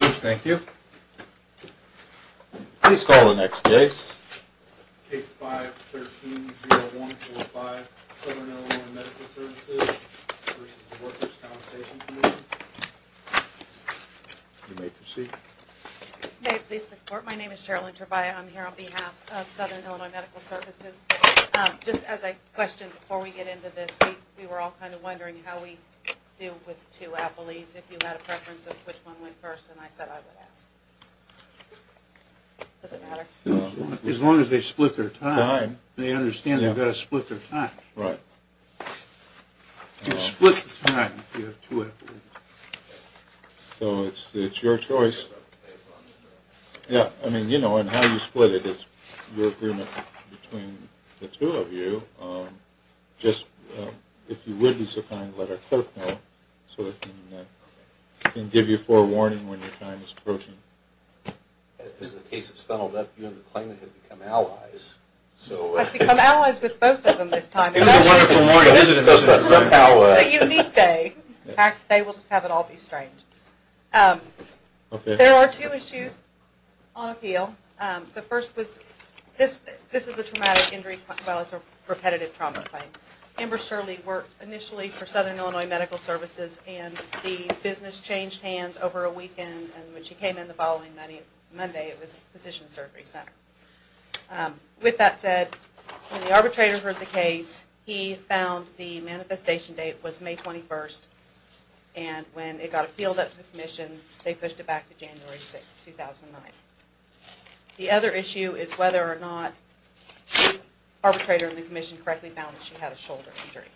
Thank you. Please call the next case. Case 5-13-0145, Southern Illinois Medical Services v. Workers' Compensation Commission. You may proceed. May it please the Court, my name is Cheryl Intervalle. I'm here on behalf of Southern Illinois Medical Services. Just as a question before we get into this, we were all kind of wondering how we deal with two appellees, if you had a preference of which one went first, and I said I would ask. Does it matter? As long as they split their time. They understand they've got to split their time. You split the time if you have two appellees. So it's your choice. Yeah, I mean, you know, and how you split it is your agreement between the two of you. Just, if you would be so kind, let our clerk know so we can give you forewarning when your time is approaching. As the case has funneled up, you and the claimant have become allies. I've become allies with both of them this time. It's a wonderful morning. A unique day. In fact, today we'll just have it all be strange. There are two issues on appeal. The first was, this is a traumatic injury, well it's a repetitive trauma claim. Amber Shirley worked initially for Southern Illinois Medical Services and the business changed hands over a weekend and when she came in the following Monday it was Physician Surgery Center. With that said, when the arbitrator heard the case, he found the manifestation date was May 21st and when it got appealed at the commission, they pushed it back to January 6th, 2009. The other issue is whether or not the arbitrator and the commission correctly found that she had a shoulder injury.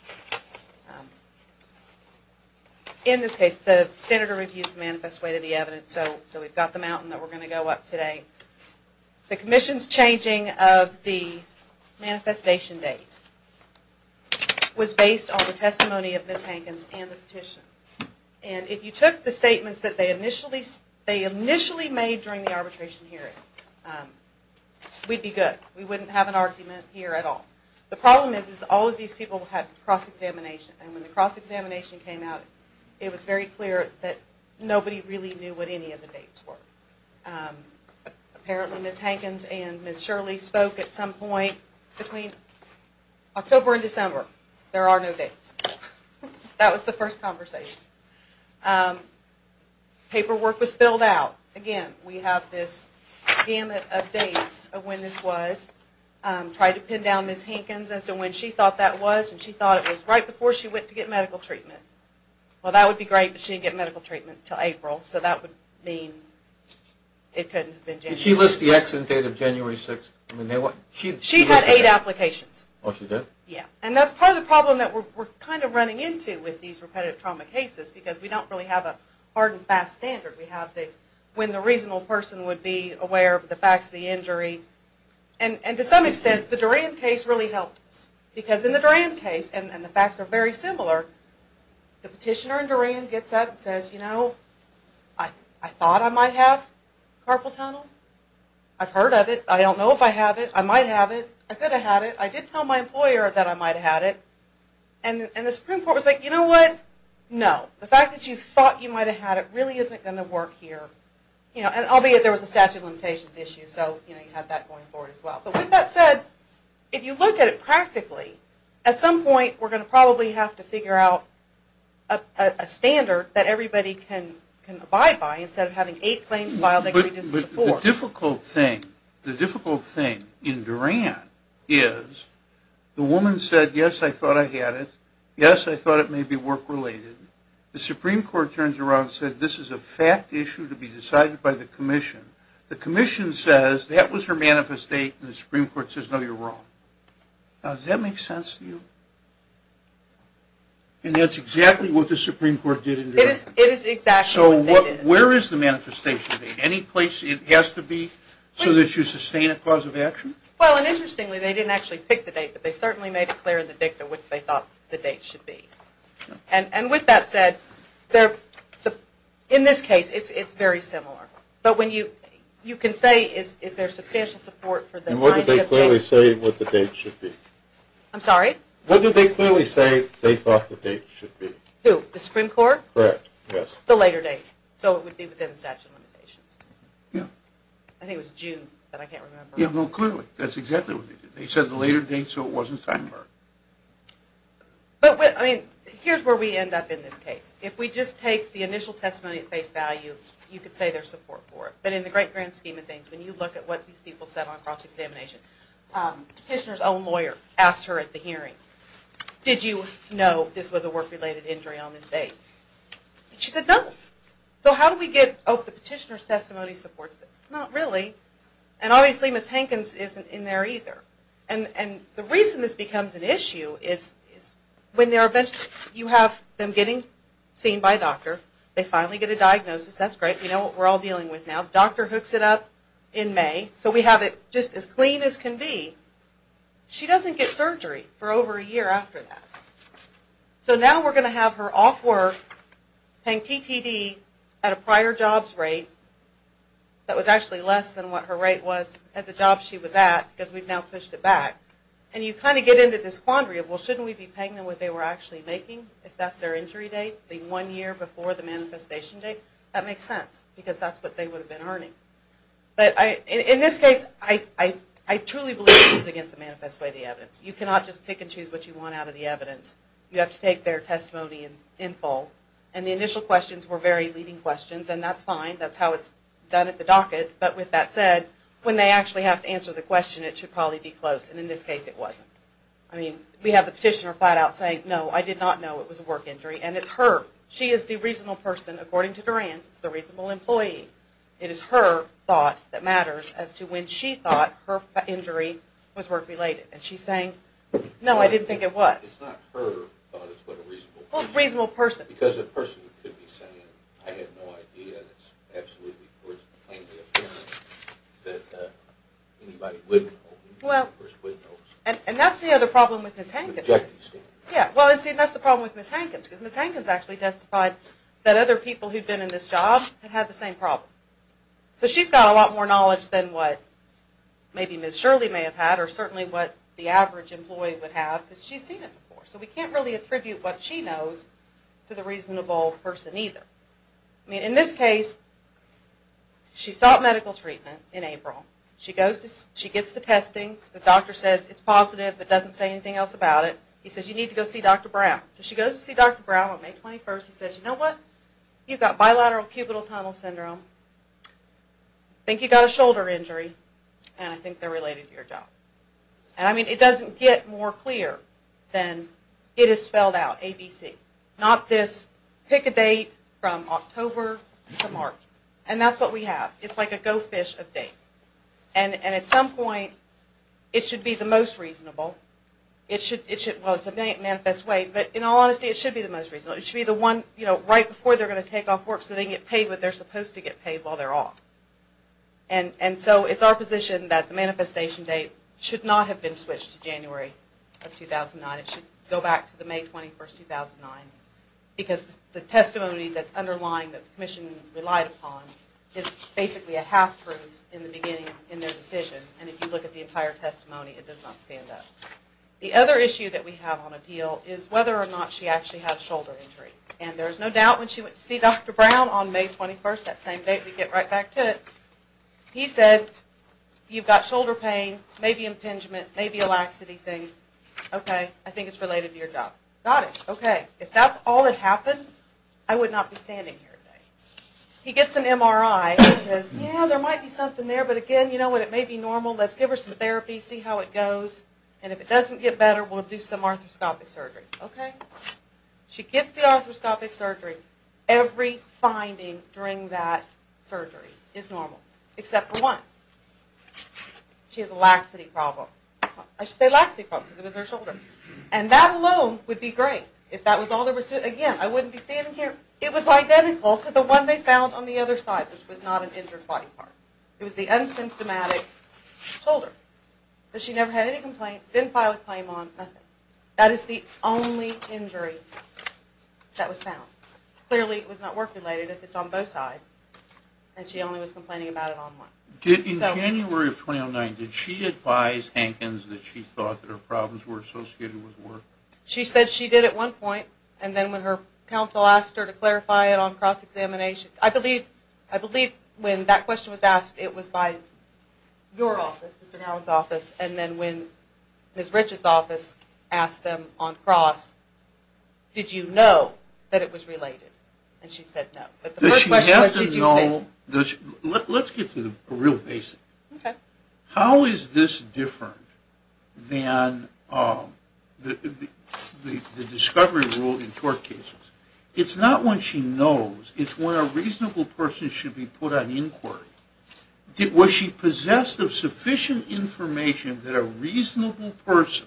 In this case, the senator refused to manifest weight of the evidence, so we've got the mountain that we're going to go up today. The commission's changing of the manifestation date was based on the testimony of Ms. Hankins and the petition. And if you took the statements that they initially made during the arbitration hearing, we'd be good. We wouldn't have an argument here at all. The problem is that all of these people had cross-examination and when the cross-examination came out, it was very clear that nobody really knew what any of the dates were. Apparently Ms. Hankins and Ms. Shirley spoke at some point between October and December. There are no dates. That was the first conversation. Paperwork was filled out. Again, we have this gamut of dates of when this was. I tried to pin down Ms. Hankins as to when she thought that was, and she thought it was right before she went to get medical treatment. Well, that would be great, but she didn't get medical treatment until April, so that would mean it couldn't have been January 6th. Did she list the accident date of January 6th? She had eight applications. Oh, she did? Yeah, and that's part of the problem that we're kind of running into with these repetitive trauma cases, because we don't really have a hard and fast standard. We have when the reasonable person would be aware of the facts of the injury, and to some extent the Duran case really helped us, because in the Duran case, and the facts are very similar, the petitioner in Duran gets up and says, you know, I thought I might have carpal tunnel. I've heard of it. I don't know if I have it. I might have it. I could have had it. I did tell my employer that I might have had it, and the Supreme Court was like, you know what? No, the fact that you thought you might have had it really isn't going to work here. You know, and albeit there was a statute of limitations issue, so, you know, you have that going forward as well. But with that said, if you look at it practically, at some point we're going to probably have to figure out a standard that everybody can abide by instead of having eight claims filed, they can reduce it to four. But the difficult thing, the difficult thing in Duran is the woman said, yes, I thought I had it. Yes, I thought it may be work-related. The Supreme Court turns around and said, this is a fact issue to be decided by the Commission. The Commission says that was her manifest date, and the Supreme Court says, no, you're wrong. Now, does that make sense to you? And that's exactly what the Supreme Court did in Duran. It is exactly what they did. So where is the manifestation date? Any place it has to be so that you sustain a cause of action? Well, and interestingly, they didn't actually pick the date, but they certainly made it clear in the dicta what they thought the date should be. And with that said, in this case, it's very similar. But you can say is there substantial support for the idea of date? And what did they clearly say what the date should be? I'm sorry? What did they clearly say they thought the date should be? Who, the Supreme Court? Correct, yes. The later date, so it would be within the statute of limitations. Yeah. I think it was June, but I can't remember. Yeah, well, clearly. That's exactly what they did. They said the later date so it wasn't time to work. But, I mean, here's where we end up in this case. If we just take the initial testimony at face value, you could say there's support for it. But in the great grand scheme of things, when you look at what these people said on cross-examination, Petitioner's own lawyer asked her at the hearing, did you know this was a work-related injury on this date? She said, no. So how do we get, oh, the Petitioner's testimony supports this. Not really. And obviously Ms. Hankins isn't in there either. And the reason this becomes an issue is when you have them getting seen by a doctor, they finally get a diagnosis, that's great. We know what we're all dealing with now. The doctor hooks it up in May so we have it just as clean as can be. She doesn't get surgery for over a year after that. So now we're going to have her off work paying TTD at a prior jobs rate that was actually less than what her rate was at the job she was at because we've now pushed it back. And you kind of get into this quandary of, well, shouldn't we be paying them what they were actually making if that's their injury date, the one year before the manifestation date? That makes sense because that's what they would have been earning. But in this case, I truly believe this is against the manifest way of the evidence. You cannot just pick and choose what you want out of the evidence. You have to take their testimony in full. And the initial questions were very leading questions, and that's fine. That's how it's done at the docket. But with that said, when they actually have to answer the question, it should probably be close. And in this case, it wasn't. I mean, we have the petitioner flat out saying, no, I did not know it was a work injury. And it's her. She is the reasonable person, according to Durand. It's the reasonable employee. It is her thought that matters as to when she thought her injury was work-related. And she's saying, no, I didn't think it was. It's not her thought, it's what a reasonable person. Well, a reasonable person. Because the person could be saying, I have no idea. It's absolutely plainly apparent that anybody wouldn't know. And that's the other problem with Ms. Hankins. Yeah, well, see, that's the problem with Ms. Hankins. Because Ms. Hankins actually testified that other people who'd been in this job had had the same problem. So she's got a lot more knowledge than what maybe Ms. Shirley may have had, or certainly what the average employee would have, because she's seen it before. So we can't really attribute what she knows to the reasonable person either. I mean, in this case, she sought medical treatment in April. She gets the testing. The doctor says it's positive, but doesn't say anything else about it. He says, you need to go see Dr. Brown. So she goes to see Dr. Brown on May 21st. He says, you know what, you've got bilateral cubital tunnel syndrome. I think you've got a shoulder injury, and I think they're related to your job. And I mean, it doesn't get more clear than it is spelled out, ABC. Not this pick a date from October to March. And that's what we have. It's like a go fish of dates. And at some point, it should be the most reasonable. It should, well, it's a manifest way, but in all honesty, it should be the most reasonable. It should be the one, you know, right before they're going to take off work so they get paid what they're supposed to get paid while they're off. And so it's our position that the manifestation date should not have been switched to January of 2009. It should go back to the May 21st, 2009. Because the testimony that's underlying that the commission relied upon is basically a half-truth in the beginning in their decision. And if you look at the entire testimony, it does not stand up. The other issue that we have on appeal is whether or not she actually had a shoulder injury. And there's no doubt when she went to see Dr. Brown on May 21st, that same date, we get right back to it. He said, you've got shoulder pain, maybe impingement, maybe a laxity thing. Okay, I think it's related to your job. Got it. Okay. If that's all that happened, I would not be standing here today. He gets an MRI and says, yeah, there might be something there. But again, you know what, it may be normal. Let's give her some therapy, see how it goes. And if it doesn't get better, we'll do some arthroscopic surgery. Okay. She gets the arthroscopic surgery. Every finding during that surgery is normal, except for one. She has a laxity problem. I say laxity problem because it was her shoulder. And that alone would be great if that was all there was to it. Again, I wouldn't be standing here. It was identical to the one they found on the other side, which was not an injured body part. It was the unsymptomatic shoulder. But she never had any complaints, didn't file a claim on, nothing. That is the only injury that was found. Clearly, it was not work-related if it's on both sides. And she only was complaining about it on one. In January of 2009, did she advise Hankins that she thought that her problems were associated with work? She said she did at one point. And then when her counsel asked her to clarify it on cross-examination, I believe when that question was asked, it was by your office, Mr. Howard's office. And then when Ms. Rich's office asked them on cross, did you know that it was related? And she said no. But the first question was, did you think? Let's get to the real basics. Okay. How is this different than the discovery rule in tort cases? It's not when she knows. It's when a reasonable person should be put on inquiry. Was she possessed of sufficient information that a reasonable person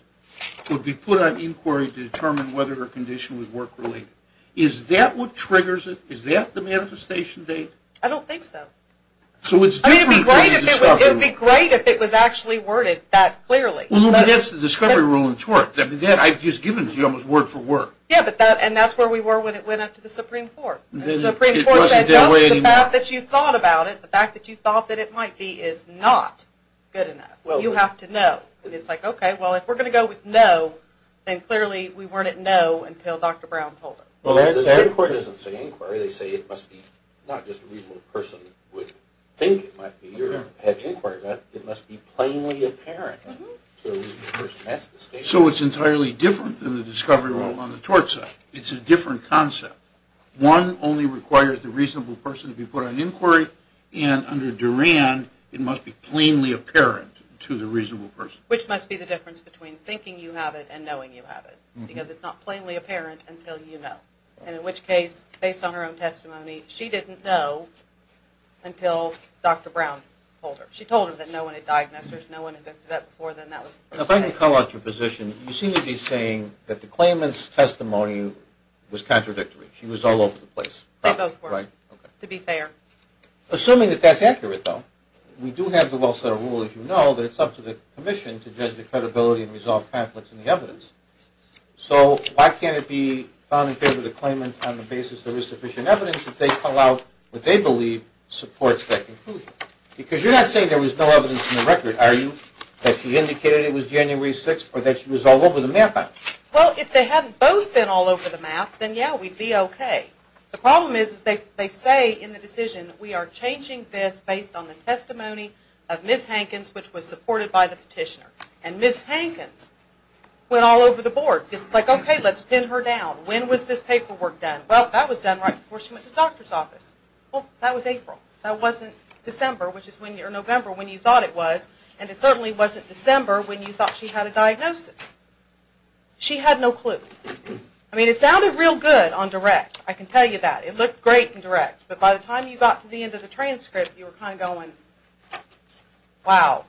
would be put on inquiry to determine whether her condition was work-related? Is that what triggers it? Is that the manifestation date? I don't think so. So it's different than the discovery rule. It would be great if it was actually worded that clearly. Well, that's the discovery rule in tort. I've just given it to you almost word for word. Yeah, and that's where we were when it went up to the Supreme Court. The Supreme Court said, no, the fact that you thought about it, the fact that you thought that it might be, is not good enough. You have to know. And it's like, okay, well, if we're going to go with no, then clearly we weren't at no until Dr. Brown told us. Well, the Supreme Court doesn't say inquiry. They say it must be not just a reasonable person would think it might be or have inquired. It must be plainly apparent to a reasonable person. So it's entirely different than the discovery rule on the tort side. It's a different concept. One only requires the reasonable person to be put on inquiry, and under Duran it must be plainly apparent to the reasonable person. Which must be the difference between thinking you have it and knowing you have it, because it's not plainly apparent until you know. And in which case, based on her own testimony, she didn't know until Dr. Brown told her. She told her that no one had diagnosed her, no one had looked at that before, then that was it. If I can call out your position, you seem to be saying that the claimant's testimony was contradictory. She was all over the place. They both were, to be fair. Assuming that that's accurate, though, we do have the well-set rule, as you know, that it's up to the commission to judge the credibility and resolve conflicts in the evidence. So why can't it be found in favor of the claimant on the basis there is sufficient evidence if they call out what they believe supports that conclusion? Because you're not saying there was no evidence in the record, are you? That she indicated it was January 6th or that she was all over the map? Well, if they hadn't both been all over the map, then, yeah, we'd be okay. The problem is they say in the decision, we are changing this based on the testimony of Ms. Hankins, which was supported by the petitioner. And Ms. Hankins went all over the board. It's like, okay, let's pin her down. When was this paperwork done? Well, that was done right before she went to the doctor's office. Well, that was April. That wasn't December, which is when you're in November, when you thought it was. And it certainly wasn't December when you thought she had a diagnosis. She had no clue. I mean, it sounded real good on direct. I can tell you that. It looked great in direct. But by the time you got to the end of the transcript, you were kind of going, wow,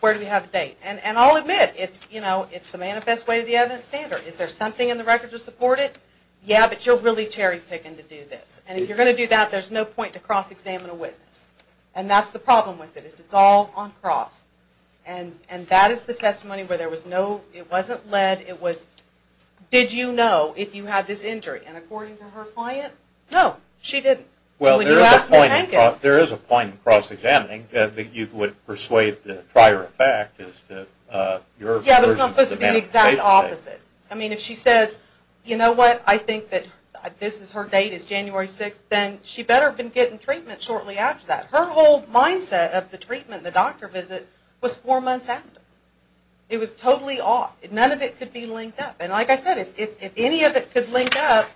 where do we have the date? And I'll admit, it's the manifest way to the evidence standard. Is there something in the record to support it? Yeah, but you're really cherry picking to do this. And if you're going to do that, there's no point to cross-examine a witness. And that's the problem with it. It's all on cross. And that is the testimony where there was no, it wasn't lead, it was, did you know if you had this injury? And according to her client, no, she didn't. Well, there is a point in cross-examining that you would persuade the prior effect. Yeah, but it's not supposed to be the exact opposite. I mean, if she says, you know what, I think that this is her date, it's January 6th, then she better have been getting treatment shortly after that. Her whole mindset of the treatment, the doctor visit, was four months after. It was totally off. None of it could be linked up. And like I said, if any of it could link up,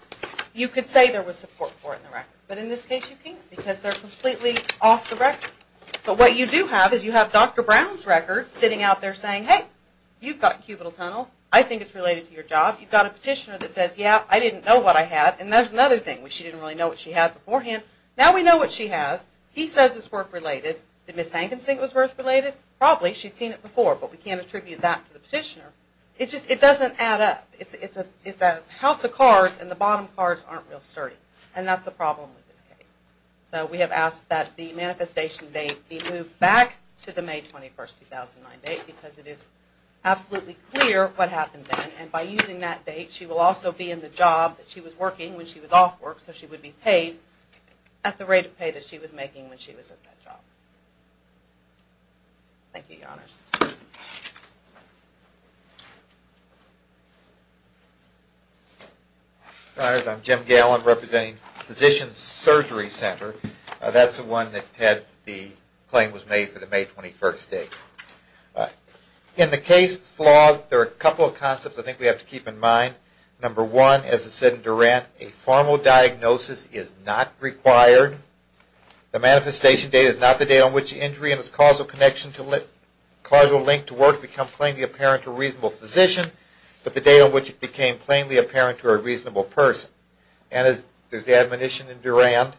you could say there was support for it in the record. But in this case, you can't because they're completely off the record. But what you do have is you have Dr. Brown's record sitting out there saying, hey, you've got cubital tunnel, I think it's related to your job. You've got a petitioner that says, yeah, I didn't know what I had. And there's another thing where she didn't really know what she had beforehand. Now we know what she has. He says it's birth related. Did Ms. Hankins think it was birth related? Probably. She'd seen it before. But we can't attribute that to the petitioner. It just doesn't add up. It's a house of cards, and the bottom cards aren't real sturdy. And that's the problem with this case. So we have asked that the manifestation date be moved back to the May 21, 2009 date because it is absolutely clear what happened then. And by using that date, she will also be in the job that she was working when she was off work so she would be paid at the rate of pay that she was making when she was at that job. Thank you, Your Honors. I'm Jim Gale. I'm representing Physician's Surgery Center. That's the one that the claim was made for the May 21 date. In the case law, there are a couple of concepts I think we have to keep in mind. Number one, as I said in Durand, a formal diagnosis is not required. The manifestation date is not the date on which the injury and its causal link to work become plainly apparent to a reasonable physician, but the date on which it became plainly apparent to a reasonable person. And as there's admonition in Durand,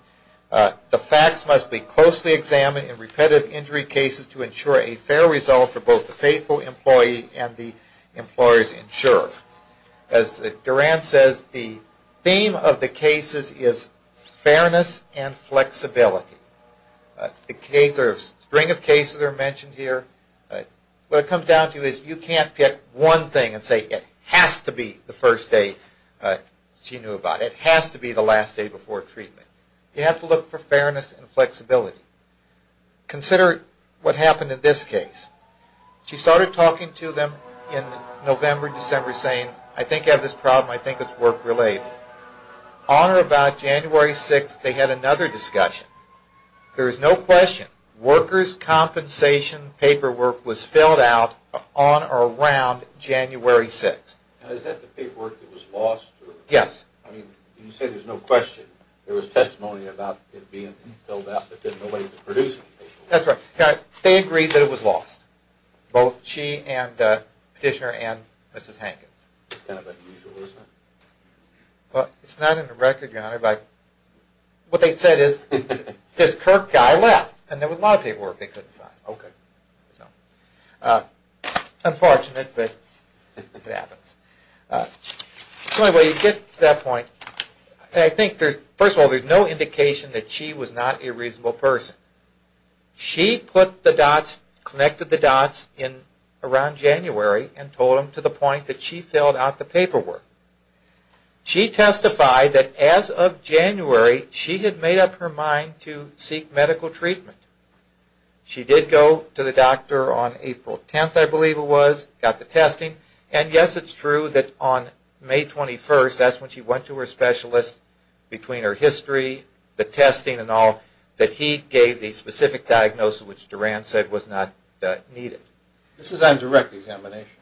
the facts must be closely examined in repetitive injury cases to ensure a fair result for both the faithful employee and the employer's insurer. As Durand says, the theme of the cases is fairness and flexibility. A string of cases are mentioned here. What it comes down to is you can't pick one thing and say it has to be the first day she knew about it. It has to be the last day before treatment. You have to look for fairness and flexibility. Consider what happened in this case. She started talking to them in November, December, saying, I think I have this problem, I think it's work-related. On or about January 6th, they had another discussion. There is no question, workers' compensation paperwork was filled out on or around January 6th. Is that the paperwork that was lost? Yes. You say there's no question. There was testimony about it being filled out, but then nobody could produce it. That's right. They agreed that it was lost, both she and the petitioner and Mrs. Hankins. That's kind of unusual, isn't it? It's not in the record, Your Honor, but what they said is this Kirk guy left, and there was a lot of paperwork they couldn't find. Okay. Unfortunate, but it happens. Anyway, you get to that point. First of all, there's no indication that she was not a reasonable person. She connected the dots around January and told them to the point that she filled out the paperwork. She testified that as of January, she had made up her mind to seek medical treatment. She did go to the doctor on April 10th, I believe it was, got the testing, and, yes, it's true that on May 21st, that's when she went to her specialist, between her history, the testing and all, that he gave the specific diagnosis, which Duran said was not needed. This is on direct examination,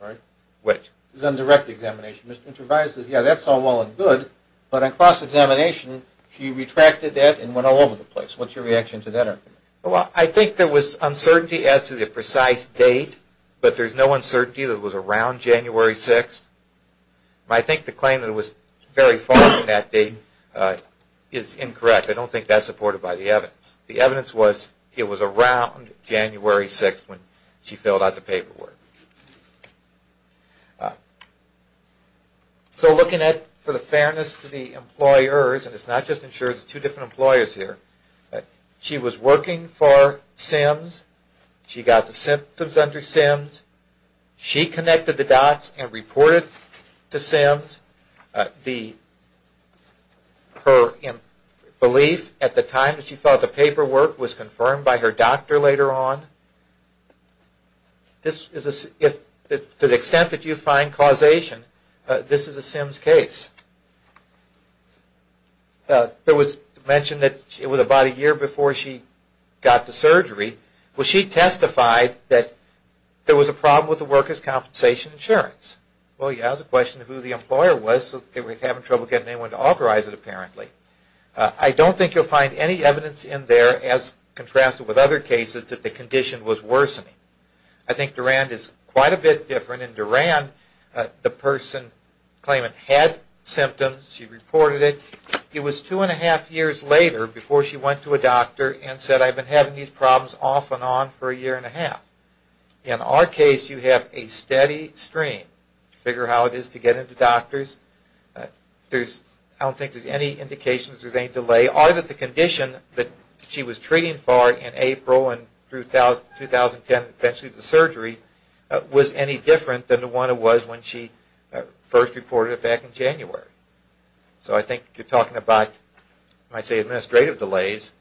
right? Which? This is on direct examination. Mr. Intervalli says, yeah, that's all well and good, but on cross-examination, she retracted that and went all over the place. What's your reaction to that argument? Well, I think there was uncertainty as to the precise date, but there's no uncertainty that it was around January 6th. I think the claim that it was very far from that date is incorrect. I don't think that's supported by the evidence. The evidence was it was around January 6th when she filled out the paperwork. So looking at, for the fairness to the employers, and it's not just insurers, it's two different employers here, she was working for SIMS, she got the symptoms under SIMS, she connected the dots and reported to SIMS. Her belief at the time that she filled out the paperwork was confirmed by her doctor later on. To the extent that you find causation, this is a SIMS case. It was mentioned that it was about a year before she got the surgery. Well, she testified that there was a problem with the worker's compensation insurance. Well, yeah, that's a question of who the employer was, so they were having trouble getting anyone to authorize it apparently. I don't think you'll find any evidence in there as contrasted with other cases that the condition was worsening. I think Durand is quite a bit different, and Durand, the person claiming had symptoms, she reported it, it was two and a half years later before she went to a doctor and said, I've been having these problems off and on for a year and a half. In our case, you have a steady stream. Figure how it is to get into doctors. I don't think there's any indication that there's any delay, or that the condition that she was treating for in April and through 2010, eventually the surgery, was any different than the one it was when she first reported it back in January. So I think you're talking about, I might say, administrative delays,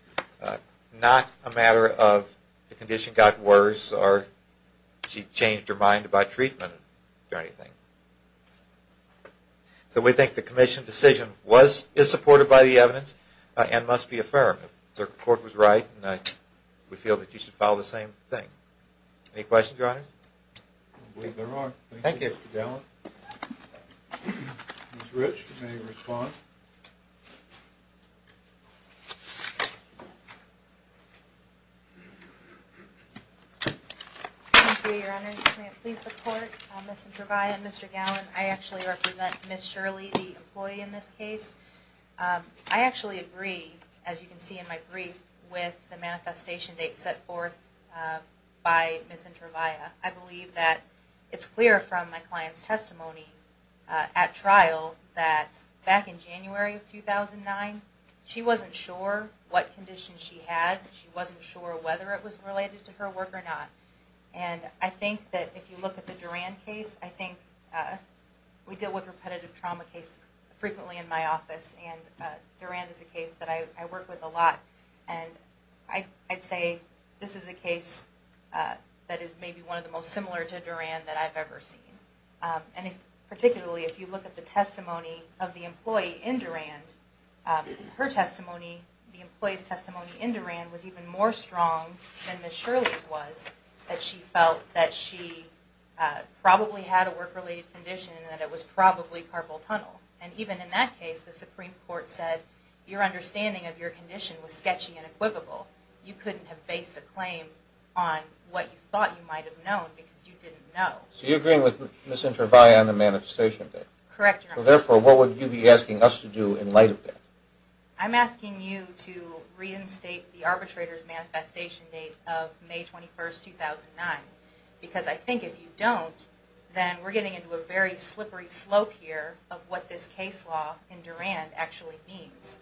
not a matter of the condition got worse or she changed her mind about treatment or anything. So we think the commission's decision is supported by the evidence and must be affirmed. The court was right, and we feel that you should follow the same thing. Any questions, Your Honors? I believe there are. Thank you. Thank you, Mr. Dellin. Ms. Rich, you may respond. Thank you, Your Honors. May it please the Court, Ms. Introvaya and Mr. Gallin. I actually represent Ms. Shirley, the employee in this case. I actually agree, as you can see in my brief, with the manifestation date set forth by Ms. Introvaya. I believe that it's clear from my client's testimony at trial that back in January of 2009, she wasn't sure what condition she had. She wasn't sure whether it was related to her work or not. And I think that if you look at the Duran case, I think we deal with repetitive trauma cases frequently in my office, and Duran is a case that I work with a lot. And I'd say this is a case that is maybe one of the most similar to Duran that I've ever seen. And particularly if you look at the testimony of the employee in Duran, her testimony, the employee's testimony in Duran was even more strong than Ms. Shirley's was, that she felt that she probably had a work-related condition and that it was probably carpal tunnel. And even in that case, the Supreme Court said your understanding of your condition was sketchy and equivocal. You couldn't have based a claim on what you thought you might have known because you didn't know. So you're agreeing with Ms. Introvaya on the manifestation date? Correct, Your Honor. So therefore, what would you be asking us to do in light of that? I'm asking you to reinstate the arbitrator's manifestation date of May 21, 2009. Because I think if you don't, then we're getting into a very slippery slope here of what this case law in Duran actually means.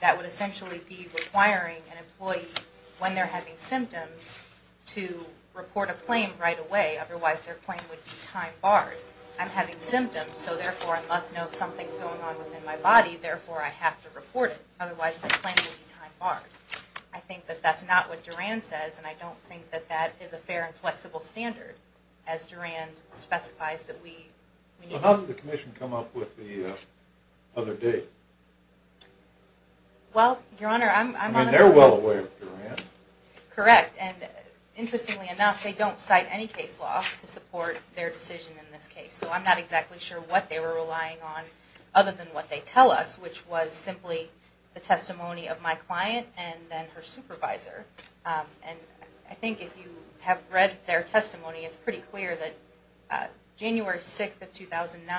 That would essentially be requiring an employee, when they're having symptoms, to report a claim right away. Otherwise, their claim would be time-barred. I'm having symptoms, so therefore, I must know if something's going on within my body. Therefore, I have to report it. Otherwise, my claim would be time-barred. I think that that's not what Duran says, and I don't think that that is a fair and flexible standard, as Duran specifies that we need. So how did the Commission come up with the other date? Well, Your Honor, I'm honestly... I mean, they're well aware of Duran. Correct, and interestingly enough, they don't cite any case law to support their decision in this case. So I'm not exactly sure what they were relying on, other than what they tell us, which was simply the testimony of my client and then her supervisor. And I think if you have read their testimony, it's pretty clear that January 6, 2009,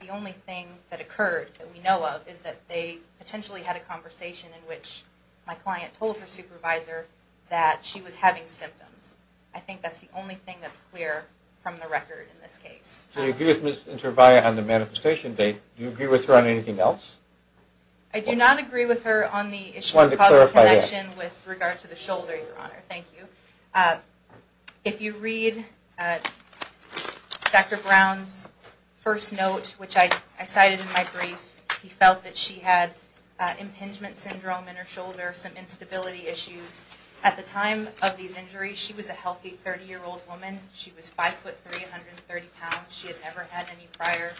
the only thing that occurred that we know of is that they potentially had a conversation in which my client told her supervisor that she was having symptoms. I think that's the only thing that's clear from the record in this case. So you agree with Ms. Intervalli on the manifestation date. Do you agree with her on anything else? I do not agree with her on the issue of causal connection with regard to the shoulder, Your Honor. Thank you. If you read Dr. Brown's first note, which I cited in my brief, he felt that she had impingement syndrome in her shoulder, some instability issues. At the time of these injuries, she was a healthy 30-year-old woman. She was 5'3", 130 pounds. She had never had any prior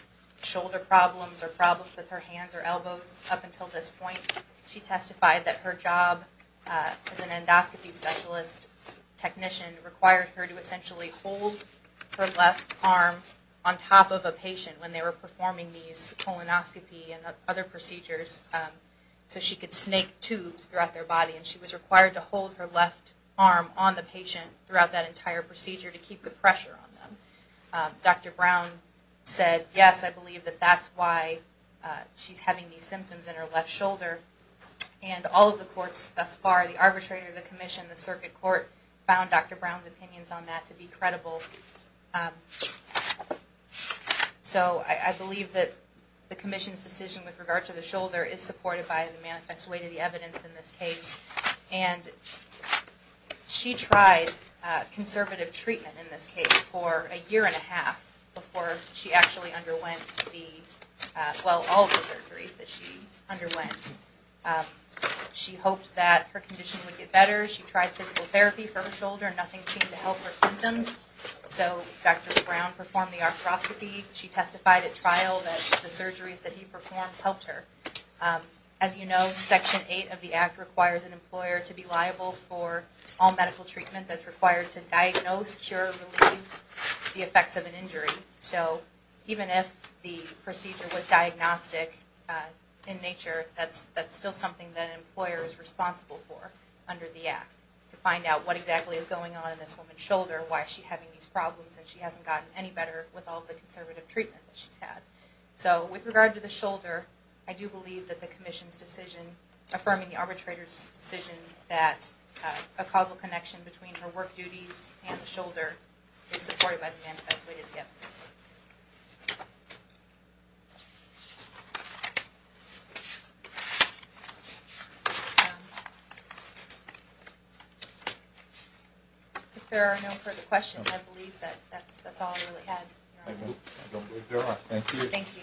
shoulder problems or problems with her hands or elbows up until this point. She testified that her job as an endoscopy specialist technician required her to essentially hold her left arm on top of a patient when they were performing these colonoscopy and other procedures so she could snake tubes throughout their body. And she was required to hold her left arm on the patient throughout that entire procedure to keep the pressure on them. Dr. Brown said, yes, I believe that that's why she's having these symptoms in her left shoulder. And all of the courts thus far, the arbitrator, the commission, the circuit court, found Dr. Brown's opinions on that to be credible. So I believe that the commission's decision with regard to the shoulder is supported by the manifest way to the evidence in this case. And she tried conservative treatment in this case for a year and a half before she actually underwent the, well, all of the surgeries that she underwent. She hoped that her condition would get better. She tried physical therapy for her shoulder and nothing seemed to help her symptoms. So Dr. Brown performed the arthroscopy. She testified at trial that the surgeries that he performed helped her. As you know, Section 8 of the Act requires an employer to be liable for all medical treatment that's required to diagnose, cure, relieve the effects of an injury. So even if the procedure was diagnostic in nature, that's still something that an employer is responsible for under the Act to find out what exactly is going on in this woman's shoulder, why is she having these problems, and she hasn't gotten any better with all the conservative treatment that she's had. So with regard to the shoulder, I do believe that the commission's decision, affirming the arbitrator's decision that a causal connection between her work duties and the shoulder is supported by the manifest way to the evidence. If there are no further questions, I believe that's all I really had. I don't believe there are. Thank you. Thank you.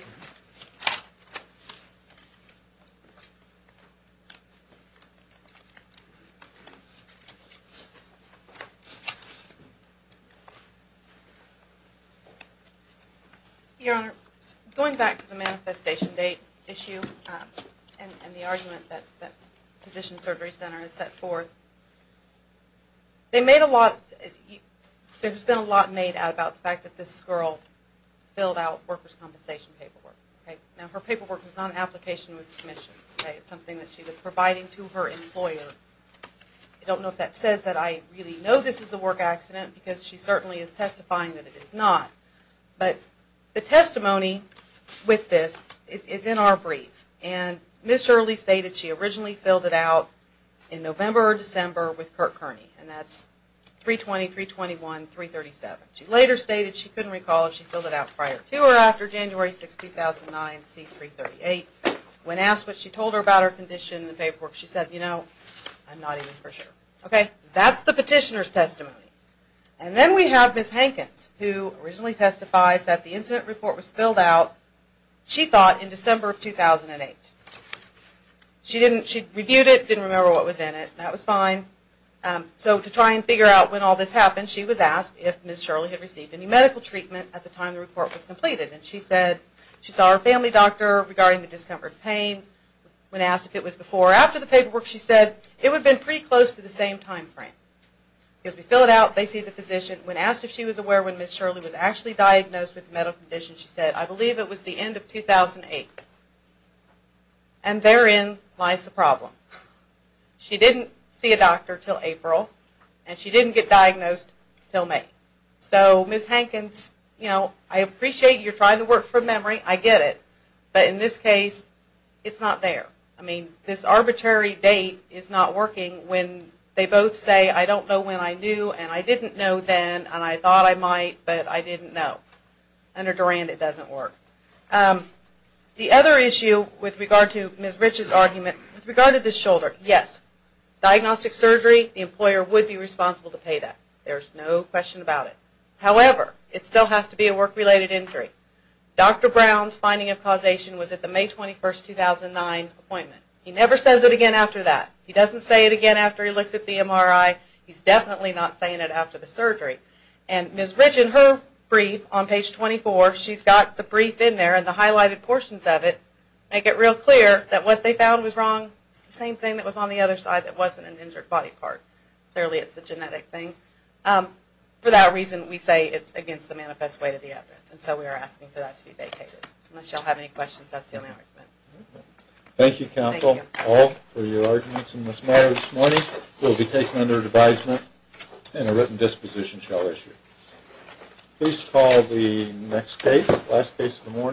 Your Honor, going back to the manifestation date issue and the argument that the Physician Surgery Center has set forth, there's been a lot made out about the fact that this girl filled out workers' compensation paperwork. Now her paperwork is not an application with the commission. It's something that she was providing to her employer. I don't know if that says that I really know this is a work accident because she certainly is testifying that it is not. But the testimony with this is in our brief. Ms. Shirley stated she originally filled it out in November or December with Kirk Kearney, and that's 320-321-337. She later stated she couldn't recall if she filled it out prior to or after January 6, 2009, C-338. When asked what she told her about her condition in the paperwork, she said, you know, I'm not even for sure. Okay, that's the petitioner's testimony. And then we have Ms. Hankins, who originally testifies that the incident report was filled out, she thought, in December of 2008. She reviewed it, didn't remember what was in it, and that was fine. So to try and figure out when all this happened, she was asked if Ms. Shirley had received any medical treatment at the time the report was completed. And she said she saw her family doctor regarding the discomfort and pain. When asked if it was before or after the paperwork, she said it would have been pretty close to the same time frame. Because we fill it out, they see the physician. When asked if she was aware when Ms. Shirley was actually diagnosed with the medical condition, she said, I believe it was the end of 2008. And therein lies the problem. She didn't see a doctor until April, and she didn't get diagnosed until May. So Ms. Hankins, you know, I appreciate you're trying to work from memory, I get it. But in this case, it's not there. I mean, this arbitrary date is not working when they both say, I don't know when I knew, and I didn't know then, and I thought I might, but I didn't know. Under Durand, it doesn't work. The other issue with regard to Ms. Rich's argument, with regard to the shoulder, yes. Diagnostic surgery, the employer would be responsible to pay that. There's no question about it. However, it still has to be a work-related injury. Dr. Brown's finding of causation was at the May 21, 2009 appointment. He never says it again after that. He doesn't say it again after he looks at the MRI. He's definitely not saying it after the surgery. And Ms. Rich in her brief on page 24, she's got the brief in there, and the highlighted portions of it make it real clear that what they found was wrong. It's the same thing that was on the other side that wasn't an injured body part. Clearly, it's a genetic thing. For that reason, we say it's against the manifest way to the evidence, and so we are asking for that to be vacated. Unless you all have any questions, that's the only argument. Thank you, counsel, all, for your arguments. Ms. Watson and Ms. Meyers, this morning, will be taken under advisement and a written disposition shall issue. Please call the next case, last case of the morning.